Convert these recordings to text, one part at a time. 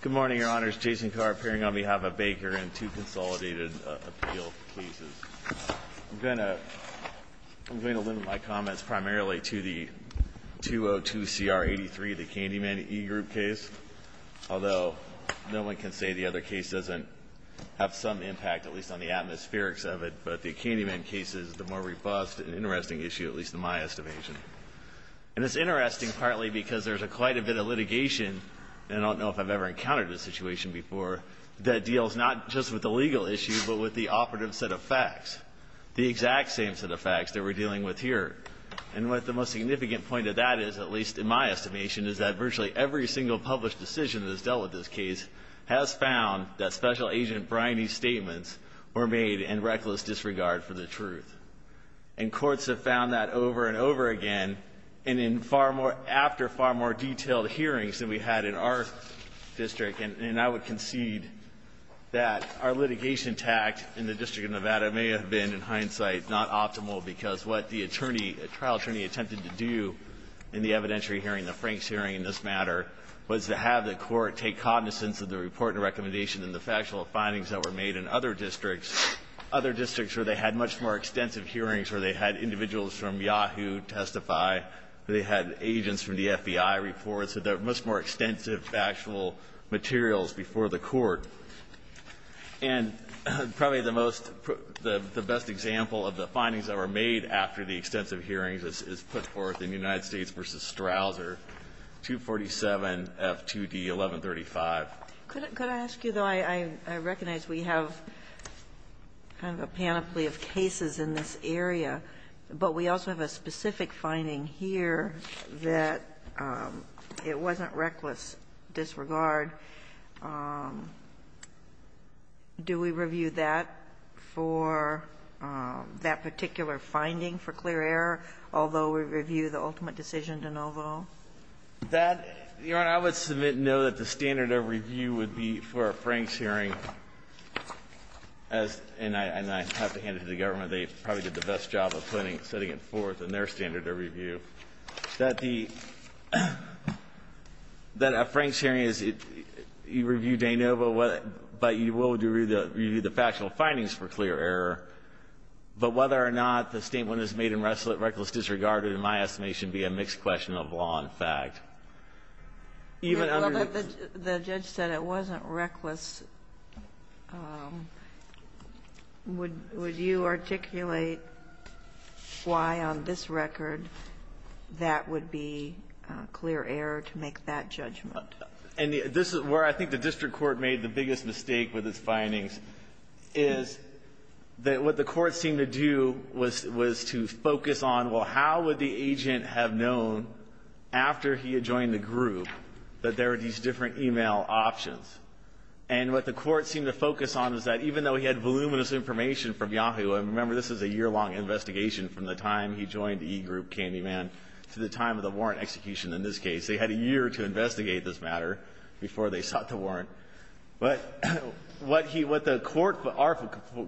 Good morning, your honors. Jason Carr, appearing on behalf of Baker in two consolidated appeal cases. I'm going to limit my comments primarily to the 202 CR 83, the Candyman e-group case, although no one can say the other case doesn't have some impact, at least on the atmospherics of it, but the Candyman case is the more robust and interesting issue, at least in my estimation. And it's a case, I don't know if I've ever encountered this situation before, that deals not just with the legal issue, but with the operative set of facts, the exact same set of facts that we're dealing with here. And what the most significant point of that is, at least in my estimation, is that virtually every single published decision that has dealt with this case has found that Special Agent Briney's statements were made in reckless disregard for the truth. And courts have found that over and over again, and in far more, after far more than one district. And I would concede that our litigation tact in the District of Nevada may have been, in hindsight, not optimal, because what the attorney attempted to do in the evidentiary hearing, the Franks hearing in this matter, was to have the Court take cognizance of the report and recommendation and the factual findings that were made in other districts, other districts where they had much more extensive hearings, where they had individuals from Yahoo testify, where they had factual materials before the Court. And probably the most, the best example of the findings that were made after the extensive hearings is put forth in United States v. Strouser, 247F2D1135. Could I ask you, though, I recognize we have kind of a panoply of cases in this area, but we also have a specific finding here that it wasn't reckless disregard in that regard. Do we review that for that particular finding for clear error, although we review the ultimate decision de novo? That, Your Honor, I would submit, no, that the standard of review would be for a Franks hearing, as and I have to hand it to the government, they probably did the best job of putting, setting it forth in their standard of review, that the, that a Franks hearing is, you review de novo, but you will review the factual findings for clear error, but whether or not the statement is made in reckless disregard would, in my estimation, be a mixed question of law and fact. Even under the judge said it wasn't reckless, would you articulate why on this record that would be clear error to make that judgment? And this is where I think the district court made the biggest mistake with its findings, is that what the court seemed to do was, was to focus on, well, how would the agent have known after he had joined the group that there were these different e-mail options? And what the court seemed to focus on is that even though he had voluminous information from Yahoo, and remember this is a year-long investigation from the time he joined the e-group, Candyman, to the time of the warrant execution in this case. They had a year to investigate this matter before they sought the warrant. But what he, what the court, our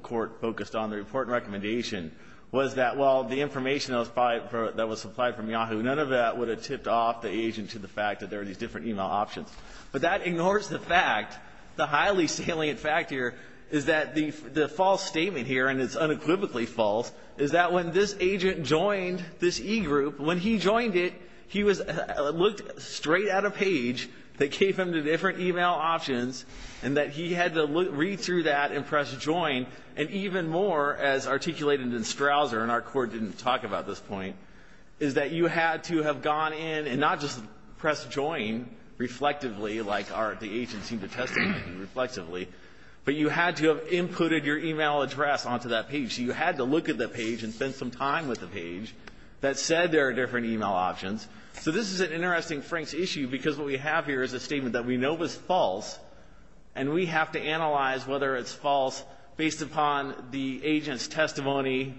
court focused on, the important recommendation was that, well, the information that was supplied from Yahoo, none of that would have tipped off the agent to the fact that there were these different e-mail options. But that ignores the fact, the highly salient fact here, is that the, the false claim that he had joined this e-group, when he joined it, he was, looked straight at a page that gave him the different e-mail options, and that he had to read through that and press join, and even more, as articulated in Strouser, and our court didn't talk about this point, is that you had to have gone in and not just press join reflectively, like the agent seemed to testify to reflectively, but you had to have So this is an interesting Frank's issue, because what we have here is a statement that we know was false, and we have to analyze whether it's false based upon the agent's testimony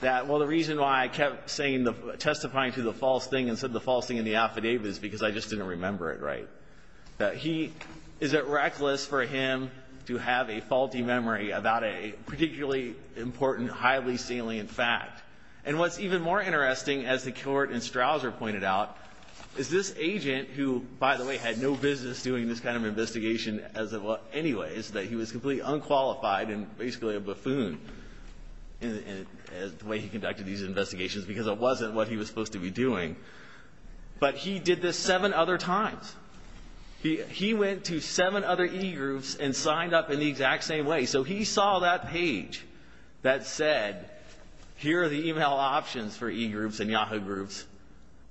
that, well, the reason why I kept saying the, testifying to the false thing and said the false thing in the affidavit is because I just didn't remember it right, that he, is it reckless for him to have a faulty memory about a particularly important, highly salient fact? And what's even more interesting, as the court in Strouser pointed out, is this agent, who, by the way, had no business doing this kind of investigation as it was, anyway, is that he was completely unqualified and basically a buffoon in, in, in the way he conducted these investigations, because it wasn't what he was supposed to be doing, but he did this seven other times. He, he went to seven other e-groups and signed up in the exact same way. So he saw that page that said, here are the email options for e-groups and Yahoo groups,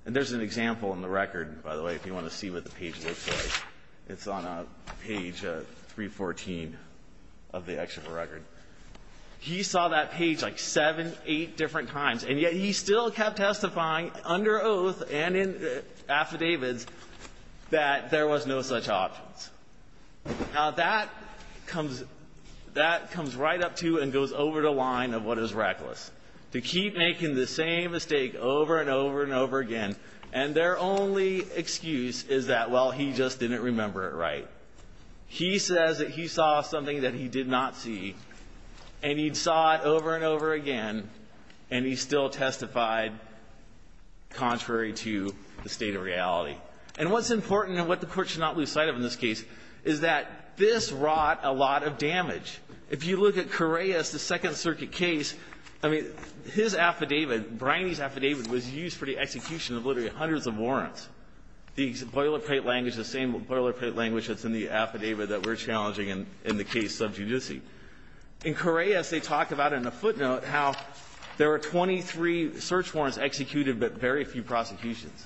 and there's an example in the record, by the way, if you want to see what the page looks like. It's on page 314 of the excerpt of the record. He saw that page like seven, eight different times, and yet he still kept testifying under oath and in affidavits that there was no such options. Now, that comes, that comes right up to and goes over the line of what is reckless, to keep making the same mistake over and over and over again. And their only excuse is that, well, he just didn't remember it right. He says that he saw something that he did not see, and he saw it over and over again, and he still testified contrary to the state of reality. And what's important and what the Court should not lose sight of in this case is that this wrought a lot of damage. If you look at Correia's, the Second Circuit case, I mean, his affidavit, Briney's affidavit, was used for the execution of literally hundreds of warrants. The boilerplate language, the same boilerplate language that's in the affidavit that we're challenging in the case of sub judice. In Correia's, they talk about in a footnote how there were 23 search warrants executed, but very few prosecutions.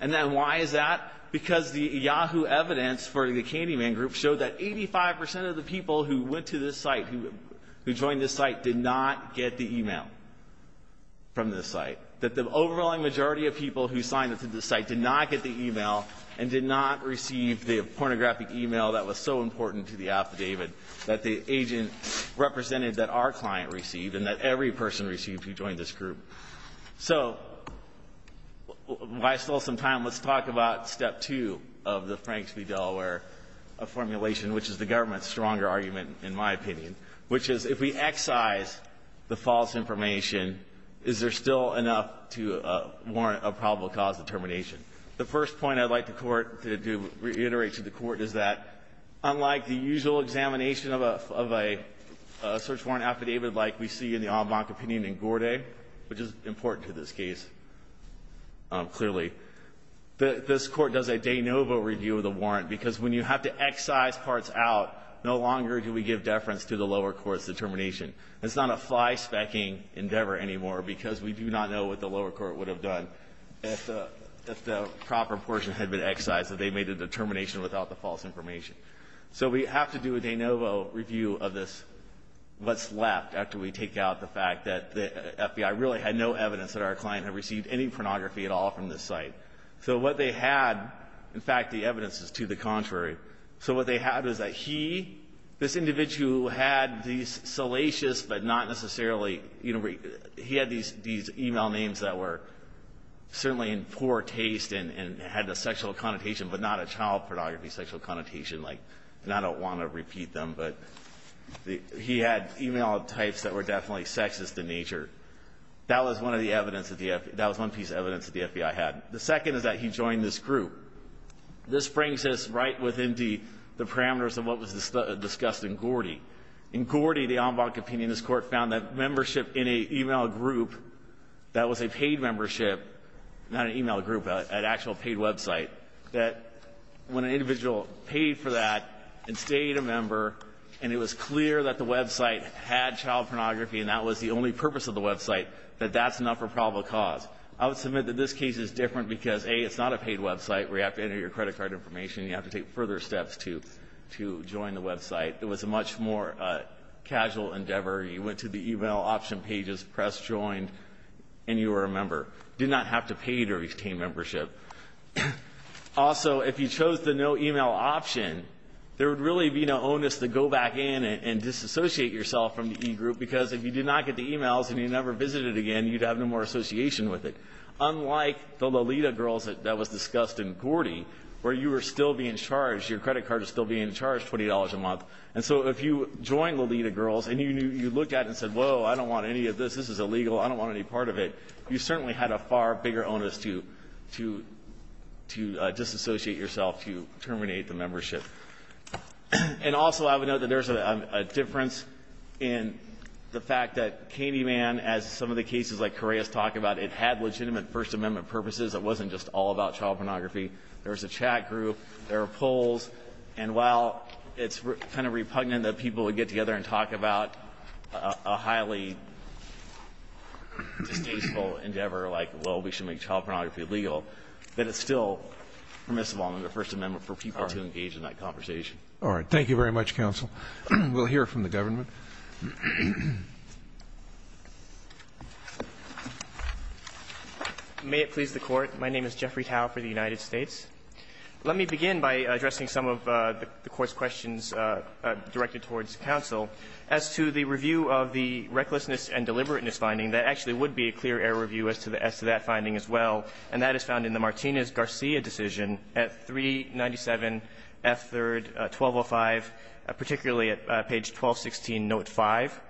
And then why is that? Because the Yahoo evidence for the Candyman group showed that 85% of the people who went to this site, who joined this site, did not get the email from this site. That the overwhelming majority of people who signed up to this site did not get the email and did not receive the pornographic email that was so important to the affidavit that the agent represented that our client received and that every person received who joined this group. So, while I still have some time, let's talk about step two of the Franks v. Delaware formulation, which is the government's stronger argument, in my opinion. Which is, if we excise the false information, is there still enough to warrant a probable cause determination? The first point I'd like the Court to reiterate to the Court is that, unlike the usual examination of a search warrant affidavit like we see in the case, which is important to this case, clearly, this Court does a de novo review of the warrant. Because when you have to excise parts out, no longer do we give deference to the lower court's determination. It's not a fly specking endeavor anymore, because we do not know what the lower court would have done if the proper portion had been excised, if they made a determination without the false information. So we have to do a de novo review of this, what's left after we take out the fact that the FBI really had no evidence that our client had received any pornography at all from this site. So what they had, in fact, the evidence is to the contrary. So what they had was that he, this individual who had these salacious, but not necessarily, he had these email names that were certainly in poor taste, and had a sexual connotation, but not a child pornography sexual connotation. And I don't want to repeat them, but he had email types that were definitely sexist in nature. That was one piece of evidence that the FBI had. The second is that he joined this group. This brings us right within the parameters of what was discussed in Gordy. In Gordy, the en banc opinion, this court found that membership in a email group that was a paid membership, not an email group, an actual paid website. That when an individual paid for that and stayed a member, and it was clear that the website had child pornography, and that was the only purpose of the website, that that's enough for probable cause. I would submit that this case is different because, A, it's not a paid website where you have to enter your credit card information. You have to take further steps to join the website. It was a much more casual endeavor. You went to the email option pages, pressed join, and you were a member. Did not have to pay to retain membership. Also, if you chose the no email option, there would really be no onus to go back in and disassociate yourself from the eGroup. Because if you did not get the emails and you never visited again, you'd have no more association with it. Unlike the Lolita Girls that was discussed in Gordy, where you were still being charged, your credit card was still being charged $20 a month. And so if you joined Lolita Girls and you looked at it and said, whoa, I don't want any of this, this is illegal, I don't want any part of it. You certainly had a far bigger onus to disassociate yourself to terminate the membership. And also, I would note that there's a difference in the fact that Candyman, as some of the cases like Correa's talk about, it had legitimate First Amendment purposes. It wasn't just all about child pornography. There was a chat group, there were polls. And while it's kind of repugnant that people would get together and talk about a highly distasteful endeavor like, well, we should make child pornography legal. That is still permissive on the First Amendment for people to engage in that conversation. All right. Thank you very much, counsel. We'll hear from the government. May it please the Court. My name is Jeffrey Tao for the United States. Let me begin by addressing some of the Court's questions directed towards counsel as to the review of the recklessness and deliberateness finding that actually would be a clear error review as to that finding as well. And that is found in the Martinez-Garcia decision at 397 F. 3rd, 1205, particularly at page 1216, note 5.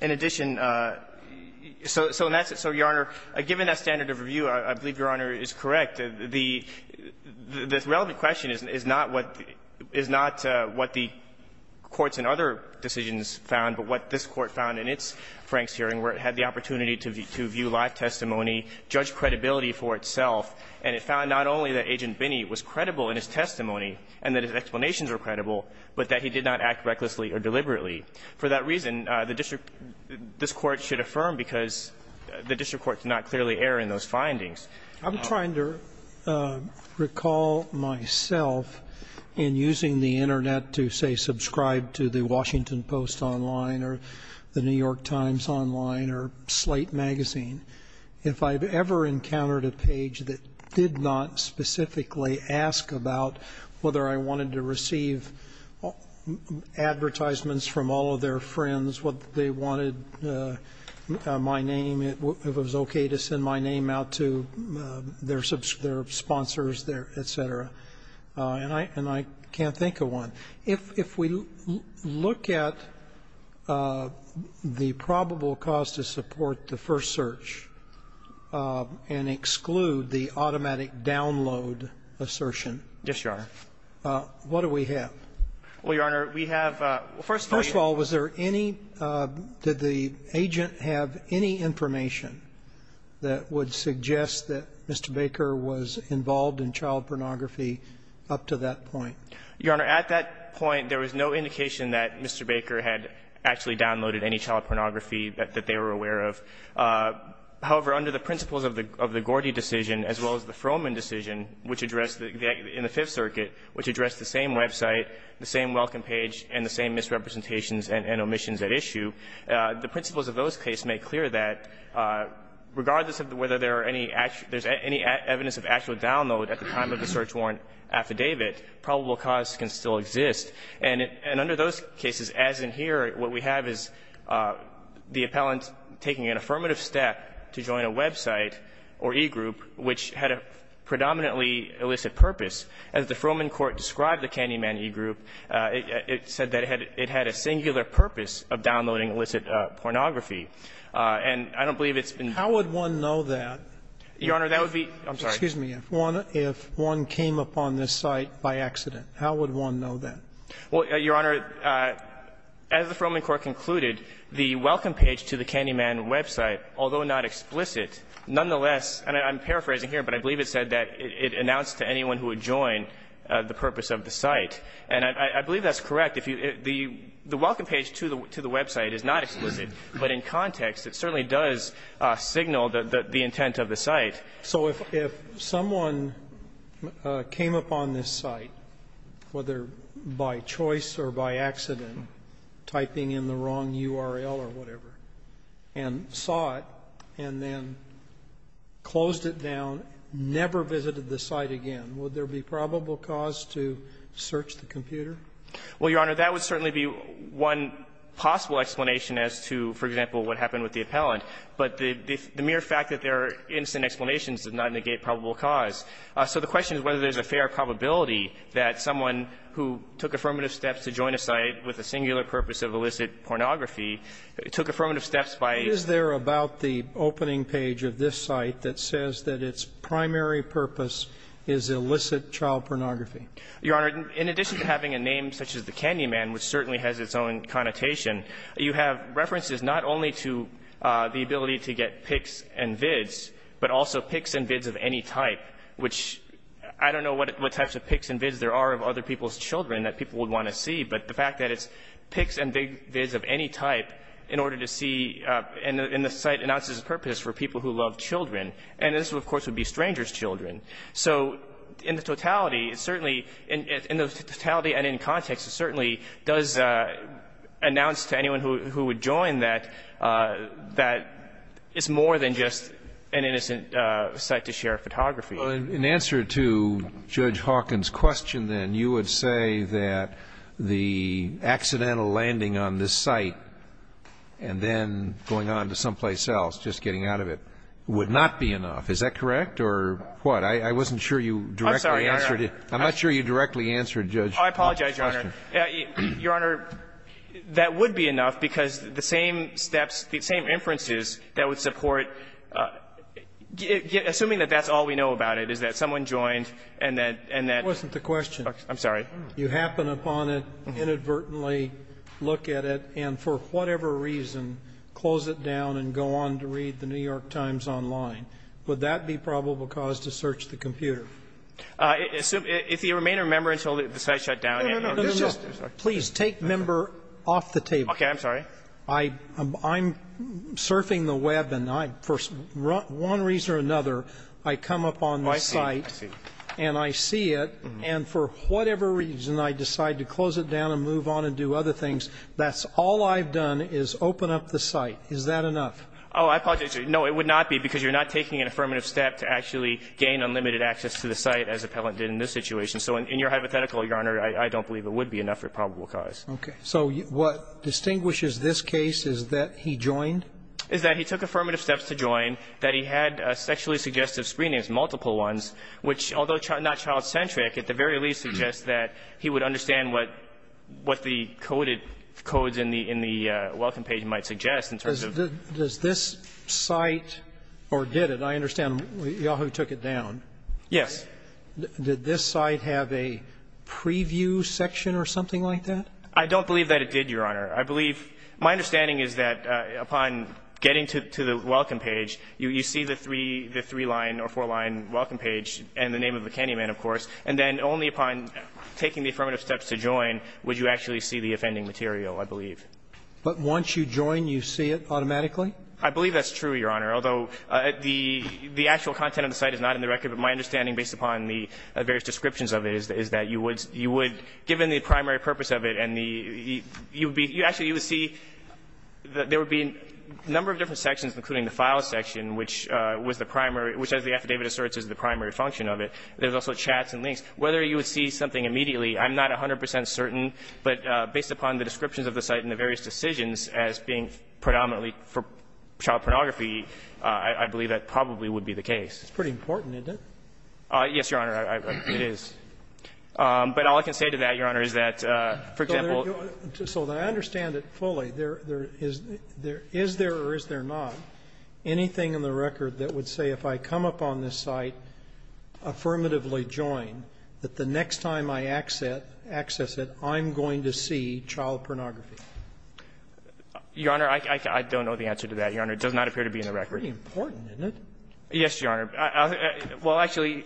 In addition, so your Honor, given that standard of review, I believe your Honor is correct. The relevant question is not what the courts in other decisions found, but what this court found was that the district court took the opportunity to view live testimony, judge credibility for itself, and it found not only that Agent Binney was credible in his testimony and that his explanations were credible, but that he did not act recklessly or deliberately. For that reason, the district court should affirm because the district court did not clearly err in those findings. I'm trying to recall myself in using the Internet to, say, subscribe to the Washington Post online or the New York Times online or Slate magazine, if I've ever encountered a page that did not specifically ask about whether I wanted to receive advertisements from all of their friends, what they wanted my name, if it was okay to send my name out to their sponsors, et cetera, and I can't think of one. If we look at the probable cause to support the first search and exclude the automatic download assertion, what do we have? First of all, was there any, did the agent have any information that would suggest that Mr. Baker was involved in child pornography up to that point? Your Honor, at that point, there was no indication that Mr. Baker had actually downloaded any child pornography that they were aware of. However, under the principles of the Gordy decision, as well as the Froman decision, which addressed the, in the Fifth Circuit, which addressed the same website, the same welcome page, and the same misrepresentations and omissions at issue, the principles of those cases make clear that regardless of whether there are any actual, there's any evidence of actual download at the time of the search warrant affidavit, probable cause can still exist. And under those cases, as in here, what we have is the appellant taking an affirmative step to join a website or e-group which had a predominantly illicit purpose. As the Froman court described the Candyman e-group, it said that it had a singular purpose of downloading illicit pornography. And I don't believe it's been ---- How would one know that? Your Honor, that would be ---- I'm sorry. Excuse me. If one came upon this site by accident, how would one know that? Well, Your Honor, as the Froman court concluded, the welcome page to the Candyman website, although not explicit, nonetheless, and I'm paraphrasing here, but I believe it said that it announced to anyone who would join the purpose of the site. And I believe that's correct. If you ---- the welcome page to the website is not explicit, but in context, it certainly does signal the intent of the site. So if someone came upon this site, whether by choice or by accident, typing in the wrong URL or whatever, and saw it, and then closed it down, never visited the site again, would there be probable cause to search the computer? Well, Your Honor, that would certainly be one possible explanation as to, for example, what happened with the appellant. But the mere fact that there are instant explanations does not negate probable cause. So the question is whether there's a fair probability that someone who took affirmative steps to join a site with a singular purpose of illicit pornography took affirmative steps by ---- Is there about the opening page of this site that says that its primary purpose is illicit child pornography? Your Honor, in addition to having a name such as the Candyman, which certainly has its own connotation, you have references not only to the ability to get pics and vids, but also pics and vids of any type, which I don't know what types of pics and vids there are of other people's children that people would want to see, but the fact that it's pics and vids of any type in order to see ---- and the site announces a purpose for people who love children. And this, of course, would be strangers' children. So in the totality, it certainly ---- in the totality and in context, it certainly does announce to anyone who would join that it's more than just an innocent site to share photography. Well, in answer to Judge Hawkins' question, then, you would say that the accidental landing on this site and then going on to someplace else, just getting out of it, would not be enough. Is that correct or what? I wasn't sure you directly answered it. I'm not sure you directly answered Judge Hawkins' question. Oh, I apologize, Your Honor. Your Honor, that would be enough, because the same steps, the same inferences that would support ---- assuming that that's all we know about it, is that someone joined and that ---- It wasn't the question. I'm sorry. You happen upon it, inadvertently look at it, and for whatever reason close it down and go on to read the New York Times online. Would that be probable cause to search the computer? If you remain a member until the site is shut down and ---- No, no, no. Please take member off the table. Okay. I'm sorry. I'm surfing the web and I, for one reason or another, I come upon the site and I see it and for whatever reason I decide to close it down and move on and do other things. That's all I've done is open up the site. Is that enough? Oh, I apologize, Your Honor. No, it would not be, because you're not taking an affirmative step to actually gain unlimited access to the site as Appellant did in this situation. So in your hypothetical, Your Honor, I don't believe it would be enough for probable cause. Okay. So what distinguishes this case is that he joined? Is that he took affirmative steps to join, that he had sexually suggestive screenings, multiple ones, which, although not child-centric, at the very least suggests that he would understand what the coded codes in the welcome page might suggest in terms of ---- But does this site, or did it, I understand, Yahoo took it down. Yes. Did this site have a preview section or something like that? I don't believe that it did, Your Honor. I believe my understanding is that upon getting to the welcome page, you see the three line or four line welcome page and the name of the candy man, of course, and then only upon taking the affirmative steps to join would you actually see the offending material, I believe. But once you join, you see it automatically? I believe that's true, Your Honor, although the actual content of the site is not in the record. But my understanding, based upon the various descriptions of it, is that you would ---- you would, given the primary purpose of it and the ---- you would be ---- you actually would see that there would be a number of different sections, including the file section, which was the primary ---- which, as the affidavit asserts, is the primary function of it. There's also chats and links. Whether you would see something immediately, I'm not 100 percent certain, but based upon the descriptions of the site and the various decisions as being predominantly for child pornography, I believe that probably would be the case. It's pretty important, isn't it? Yes, Your Honor, it is. But all I can say to that, Your Honor, is that, for example ---- So I understand it fully. There is there or is there not anything in the record that would say if I come up on this site, affirmatively join, that the next time I access it, I'm going to see, Your Honor, I don't know the answer to that, Your Honor. It does not appear to be in the record. It's pretty important, isn't it? Yes, Your Honor. Well, actually,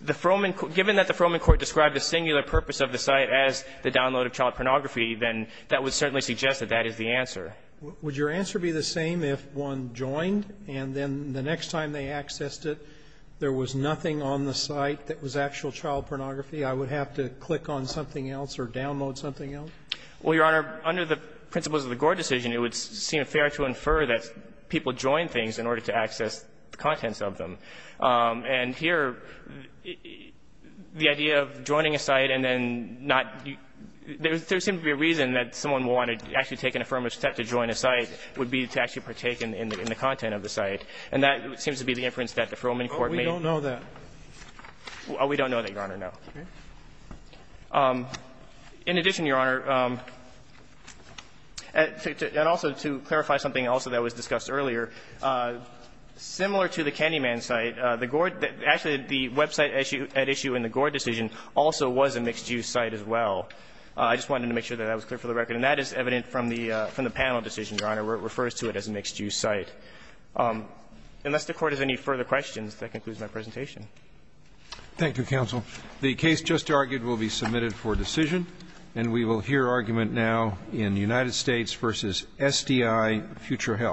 the Frohman ---- given that the Frohman court described the singular purpose of the site as the download of child pornography, then that would certainly suggest that that is the answer. Would your answer be the same if one joined and then the next time they accessed it, there was nothing on the site that was actual child pornography? I would have to click on something else or download something else? Well, Your Honor, under the principles of the Gore decision, it would seem fair to infer that people join things in order to access the contents of them. And here, the idea of joining a site and then not ---- there seems to be a reason that someone wanted to actually take an affirmative step to join a site would be to actually partake in the content of the site. And that seems to be the inference that the Frohman court made. But we don't know that. We don't know that, Your Honor, no. In addition, Your Honor, and also to clarify something also that was discussed earlier, similar to the Candyman site, the Gore ---- actually, the website at issue in the Gore decision also was a mixed-use site as well. I just wanted to make sure that that was clear for the record. And that is evident from the panel decision, Your Honor, where it refers to it as a mixed-use site. Unless the Court has any further questions, that concludes my presentation. Thank you, counsel. The case just argued will be submitted for decision. And we will hear argument now in United States v. SDI, Future Health.